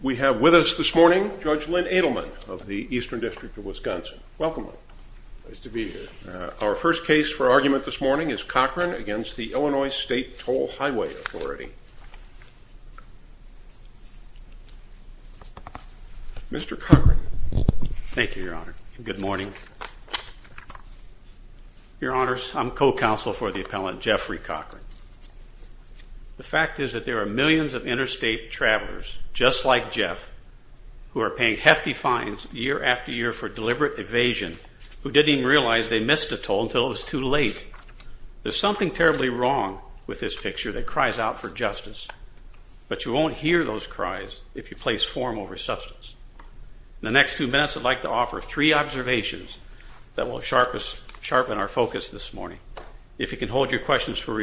We have with us this morning Judge Lynn Edelman of the Eastern District of Wisconsin. Welcome Lynn. Nice to be here. Our first case for argument this morning is Cochran v. Illinois State Toll Highway Authority. Mr. Cochran. Thank you, Your Honor. Good morning. Your Honors, I'm co-counsel for the appellant Jeffrey Cochran. The fact is that there are millions of interstate travelers, just like Jeff, who are paying hefty fines year after year for deliberate evasion, who didn't even realize they missed a toll until it was too late. There's something terribly wrong with this picture that cries out for justice, but you won't hear those cries if you place form over substance. In the next two minutes, I'd like to offer three observations that will sharpen our focus this morning. If you can hold your questions when we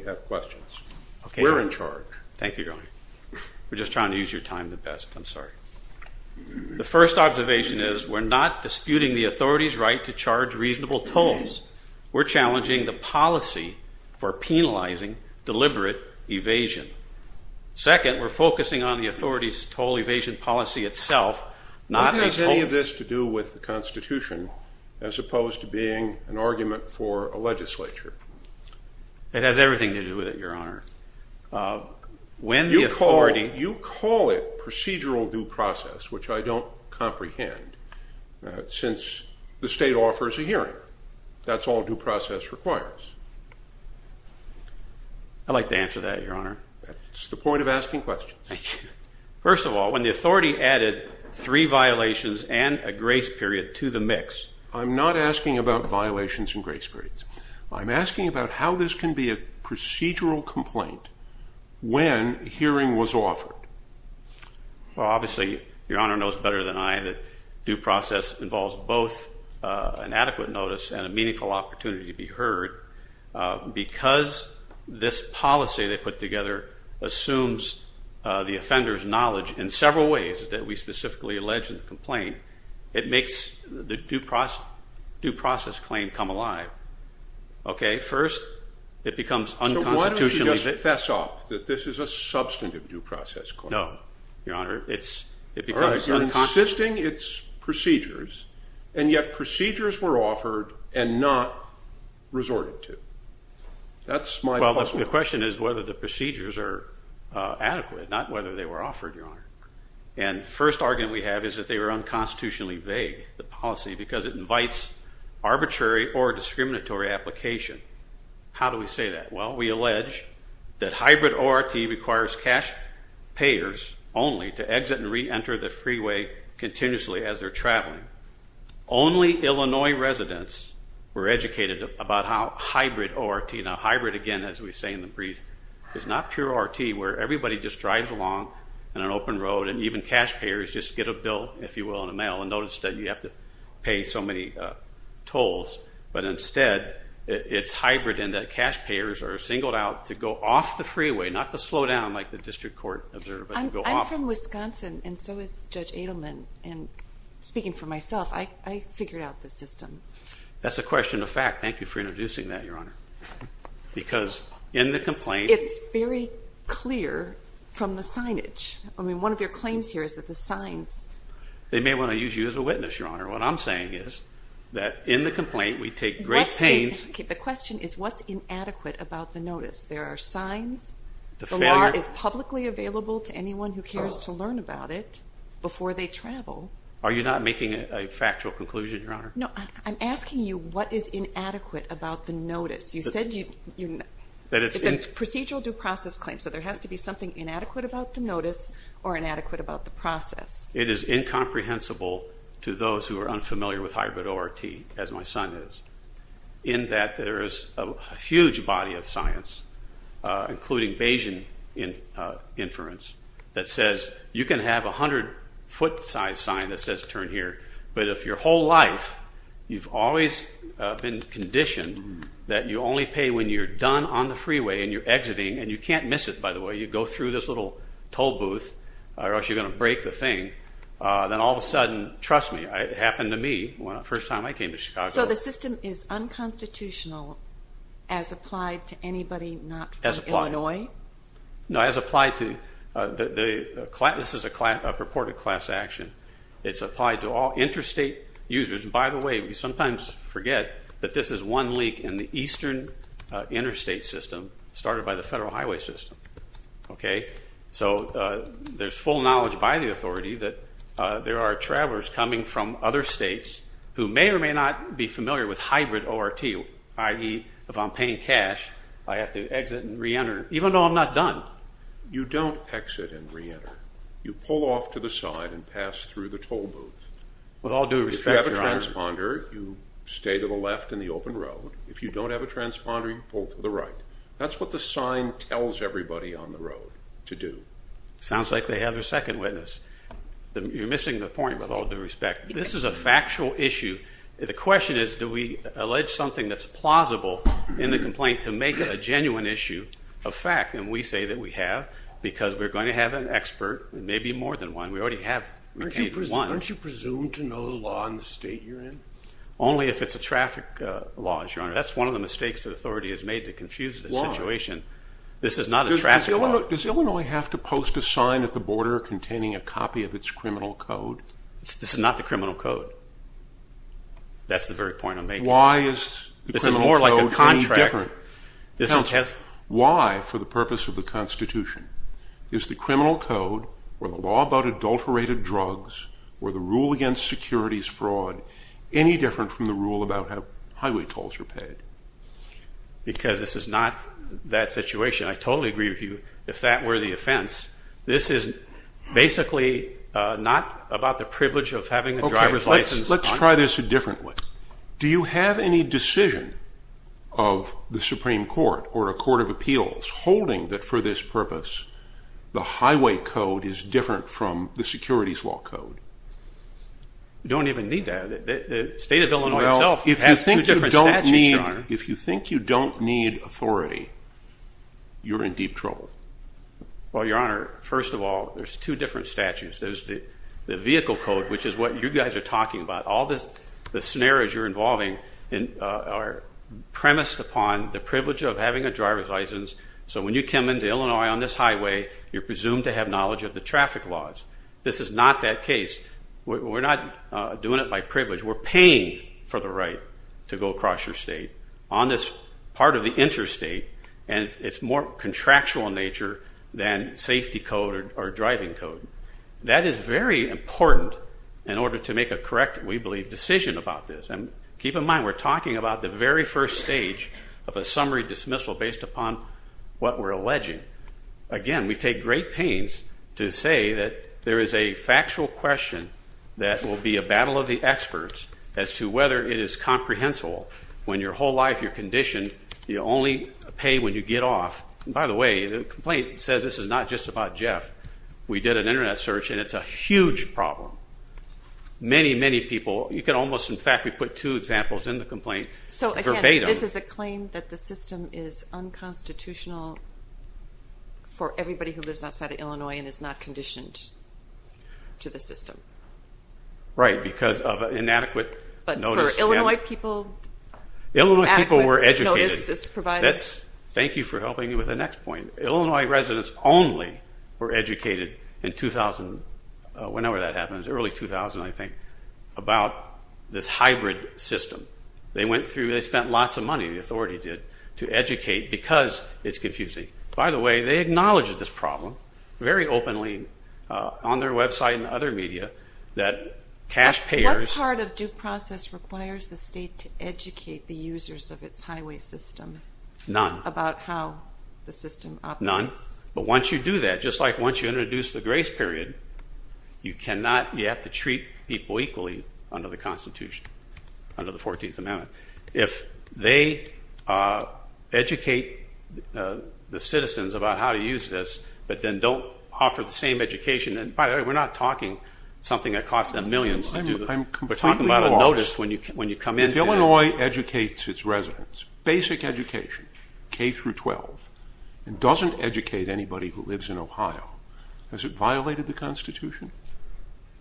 have questions. We're in charge. Thank you, Your Honor. We're just trying to use your time the best. I'm sorry. The first observation is we're not disputing the authority's right to charge reasonable tolls. We're challenging the policy for penalizing deliberate evasion. Second, we're focusing on the authority's toll evasion policy itself, not the tolls. What has any of this to do with the Constitution as opposed to being an argument for a legislature? It has everything to do with it, Your Honor. You call it procedural due process, which I don't comprehend, since the state offers a hearing. That's all due process requires. I'd like to answer that, Your Honor. That's the point of asking questions. First of all, when the authority added three violations and a grace period to the mix... I'm not asking about violations and grace periods. I'm asking about how this can be a procedural complaint when a hearing was offered. Obviously, Your Honor knows better than I that due process involves both an adequate notice and a meaningful opportunity to be heard. Because this policy they put together assumes the offender's knowledge in several ways that we specifically allege in the complaint. It makes the due process claim come alive. First, it becomes unconstitutionally... So why don't you just fess up that this is a substantive due process claim? No, Your Honor. It becomes unconstitutional. You're insisting it's procedures, and yet procedures were offered and not resorted to. That's my puzzlement. The question is whether the procedures are adequate, not whether they were offered, Your Honor. And the first argument we have is that they were unconstitutionally vague, the policy, because it invites arbitrary or discriminatory application. How do we say that? Well, we allege that hybrid ORT requires cash payers only to exit and re-enter the freeway continuously as they're traveling. Only Illinois residents were educated about how hybrid ORT... Now, hybrid, again, as we say in the brief, is not pure ORT where everybody just drives along on an open road, and even cash payers just get a bill, if you will, in the mail and notice that you have to pay so many tolls. But instead, it's hybrid in that cash payers are singled out to go off the freeway, not to slow down like the district court observed, but to go off. I'm from Wisconsin, and so is Judge Adelman. And speaking for myself, I figured out the system. That's a question of fact. Thank you for introducing that, Your Honor. Because in the complaint... It's very clear from the signage. I mean, one of your claims here is that the signs... They may want to use you as a witness, Your Honor. What I'm saying is that in the complaint, we take great pains... The question is, what's inadequate about the notice? There are signs. The ORT is publicly available to anyone who cares to learn about it before they travel. Are you not making a factual conclusion, Your Honor? No, I'm asking you what is inadequate about the notice. You said it's a procedural due process claim, so there has to be something inadequate about the notice or inadequate about the process. It is incomprehensible to those who are unfamiliar with hybrid ORT, as my son is, in that there is a huge body of science, including Bayesian inference, that says you can have a 100-foot-sized sign that says, Turn Here. But if your whole life you've always been conditioned that you only pay when you're done on the freeway and you're exiting, and you can't miss it, by the way. You go through this little toll booth, or else you're going to break the thing. Then all of a sudden, trust me, it happened to me the first time I came to Chicago. So the system is unconstitutional as applied to anybody not from Illinois? No, as applied to... This is a purported class action. It's applied to all interstate users. By the way, we sometimes forget that this is one leak in the eastern interstate system, started by the federal highway system. Okay? So there's full knowledge by the authority that there are travelers coming from other states who may or may not be familiar with hybrid ORT, i.e., if I'm paying cash, I have to exit and reenter, even though I'm not done. You don't exit and reenter. You pull off to the side and pass through the toll booth. With all due respect, Your Honor... If you have a transponder, you stay to the left in the open road. If you don't have a transponder, you pull to the right. That's what the sign tells everybody on the road to do. Sounds like they have their second witness. You're missing the point, with all due respect. This is a factual issue. The question is, do we allege something that's plausible in the complaint to make it a genuine issue of fact? And we say that we have, because we're going to have an expert, maybe more than one. We already have one. Aren't you presumed to know the law in the state you're in? Only if it's a traffic law, Your Honor. That's one of the mistakes the authority has made to confuse the situation. Why? This is not a traffic law. Does Illinois have to post a sign at the border containing a copy of its criminal code? This is not the criminal code. That's the very point I'm making. Why is the criminal code any different? Counsel, why, for the purpose of the Constitution, is the criminal code or the law about adulterated drugs or the rule against securities fraud any different from the rule about how highway tolls are paid? Because this is not that situation. I totally agree with you. If that were the offense, this is basically not about the privilege of having a driver's license. Let's try this a different way. Do you have any decision of the Supreme Court or a court of appeals holding that for this purpose, the highway code is different from the securities law code? You don't even need that. The state of Illinois itself has two different statutes, Your Honor. If you think you don't need authority, you're in deep trouble. Well, Your Honor, first of all, there's two different statutes. There's the vehicle code, which is what you guys are talking about. All the scenarios you're involving are premised upon the privilege of having a driver's license. So when you come into Illinois on this highway, you're presumed to have knowledge of the traffic laws. This is not that case. We're not doing it by privilege. We're paying for the right to go across your state on this part of the interstate, and it's more contractual in nature than safety code or driving code. That is very important in order to make a correct, we believe, decision about this. And keep in mind, we're talking about the very first stage of a summary dismissal based upon what we're alleging. Again, we take great pains to say that there is a factual question that will be a battle of the experts as to whether it is comprehensible. When your whole life you're conditioned, you only pay when you get off. By the way, the complaint says this is not just about Jeff. We did an internet search, and it's a huge problem. Many, many people, you can almost, in fact, we put two examples in the complaint. So again, this is a claim that the system is unconstitutional for everybody who lives outside of Illinois and is not conditioned to the system. Right, because of inadequate notice. But for Illinois people, inadequate notice is provided. Illinois residents only were educated in 2000, whenever that happens, early 2000, I think, about this hybrid system. They went through, they spent lots of money, the authority did, to educate because it's confusing. By the way, they acknowledged this problem very openly on their website and other media that cash payers- What part of due process requires the state to educate the users of its highway system? None. About how the system operates? None. But once you do that, just like once you introduce the grace period, you cannot, you have to treat people equally under the Constitution, under the 14th Amendment. If they educate the citizens about how to use this, but then don't offer the same education, and by the way, we're not talking something that costs them millions to do, we're talking about a notice when you come into- Basic education, K-12, doesn't educate anybody who lives in Ohio. Has it violated the Constitution?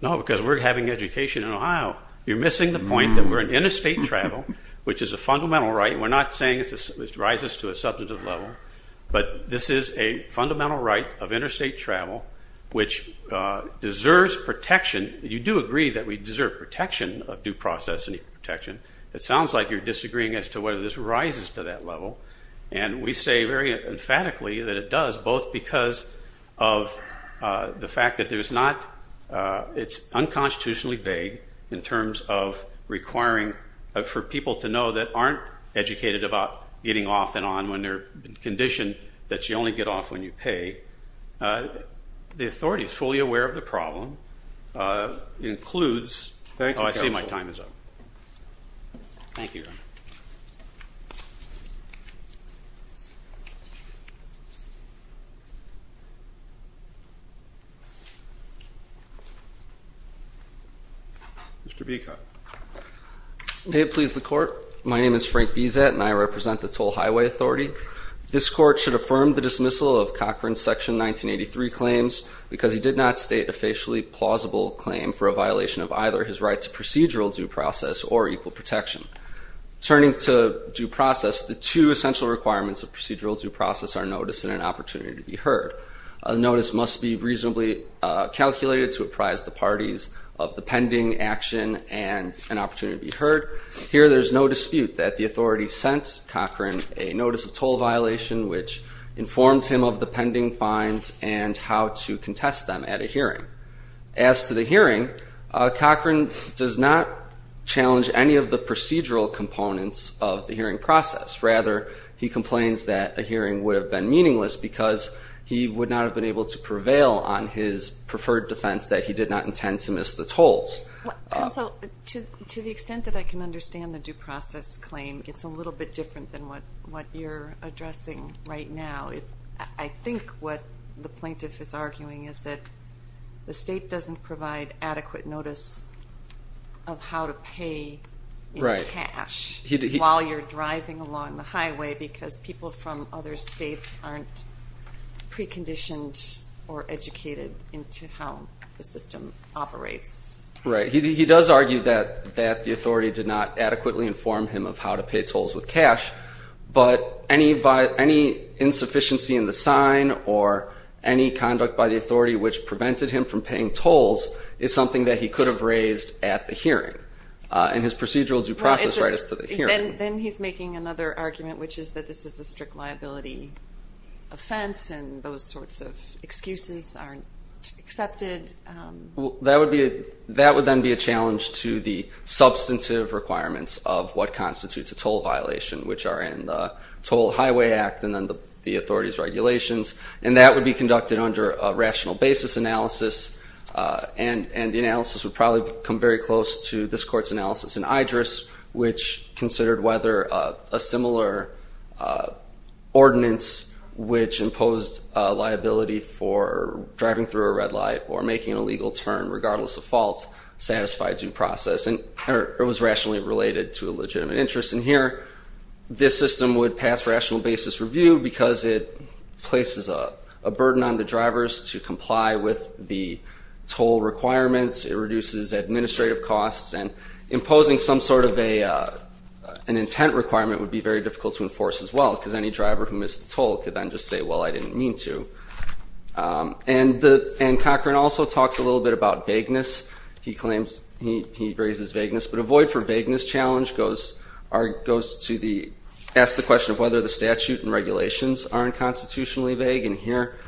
No, because we're having education in Ohio. You're missing the point that we're in interstate travel, which is a fundamental right. We're not saying it rises to a substantive level, but this is a fundamental right of interstate travel, which deserves protection. You do agree that we deserve protection of due process and equal protection. It sounds like you're saying it rises to that level, and we say very emphatically that it does, both because of the fact that there's not, it's unconstitutionally vague in terms of requiring for people to know that aren't educated about getting off and on when they're conditioned that you only get off when you pay. The authority is fully aware of the problem. It includes- Thank you, Counselor. Oh, I see my time is up. Thank you. Mr. Beacott. May it please the Court. My name is Frank Beazette, and I represent the Toll Highway Authority. This Court should affirm the dismissal of Cochran's Section 1983 claims because he did not state a facially plausible claim for a violation of either his right to procedural due process or equal protection. Turning to due process, the two essential requirements of procedural due process are notice and an opportunity to be heard. A notice must be reasonably calculated to apprise the parties of the pending action and an opportunity to be heard. Here, there's no dispute that the authority sent Cochran a notice of toll violation, which informed him of the pending fines and how to contest them at a hearing. As to the plaintiff, he did not challenge any of the procedural components of the hearing process. Rather, he complains that a hearing would have been meaningless because he would not have been able to prevail on his preferred defense that he did not intend to miss the tolls. Counsel, to the extent that I can understand the due process claim, it's a little bit different than what you're addressing right now. I think what the plaintiff is arguing is that the authority did not tell him how to pay in cash while you're driving along the highway because people from other states aren't preconditioned or educated into how the system operates. He does argue that the authority did not adequately inform him of how to pay tolls with cash, but any insufficiency in the sign or any conduct by the authority which prevented him from in his procedural due process right up to the hearing. Then he's making another argument, which is that this is a strict liability offense and those sorts of excuses aren't accepted. That would then be a challenge to the substantive requirements of what constitutes a toll violation, which are in the Toll Highway Act and then the authority's regulations, and that would be conducted under a rational basis analysis, and the analysis would probably come very close to what's analysed in Idris, which considered whether a similar ordinance which imposed a liability for driving through a red light or making an illegal turn, regardless of fault, satisfied due process, and it was rationally related to a legitimate interest in here. This system would pass rational basis review because it places a burden on the drivers to comply with the toll requirements. It reduces administrative costs, and imposing some sort of an intent requirement would be very difficult to enforce as well because any driver who missed the toll could then just say, well, I didn't mean to. And Cochran also talks a little bit about vagueness. He claims he raises vagueness, but a void for vagueness challenge goes to the, asks the question of whether the statute and regulations aren't constitutionally vague, and here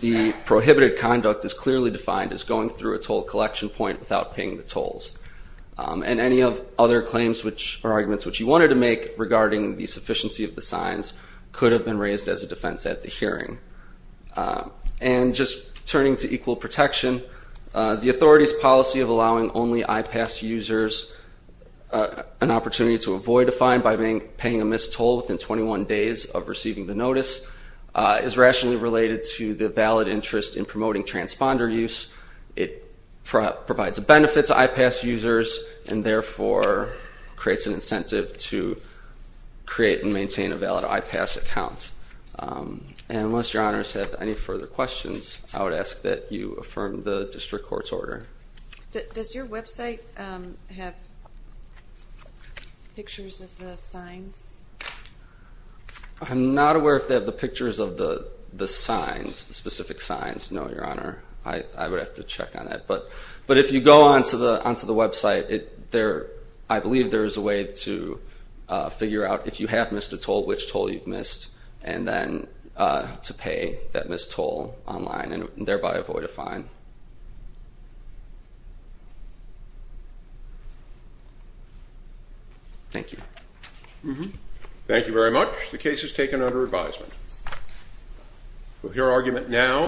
the prohibited conduct is clearly defined as going through a toll collection point without paying the tolls. And any other claims or arguments which he wanted to make regarding the sufficiency of the signs could have been raised as a defense at the hearing. And just turning to equal protection, the authority's policy of allowing only I-pass users an opportunity to avoid a fine by paying a missed toll within 21 days of receiving the notice is rationally related to the valid interest in promoting transponder use. It provides a benefit to I-pass users and therefore creates an incentive to create and maintain a valid I-pass account. And unless your honors have any further questions, I would ask that you affirm the district court's order. Does your website have pictures of the signs? I'm not aware if they have the pictures of the signs, the specific signs. No, your honor. I would have to check on that. But if you go onto the website, I believe there is a way to figure out if you have missed a toll, which toll you've missed, and then to pay that missed toll online and thereby avoid a fine. Thank you. Thank you very much. The case is taken under advisement. With your argument now.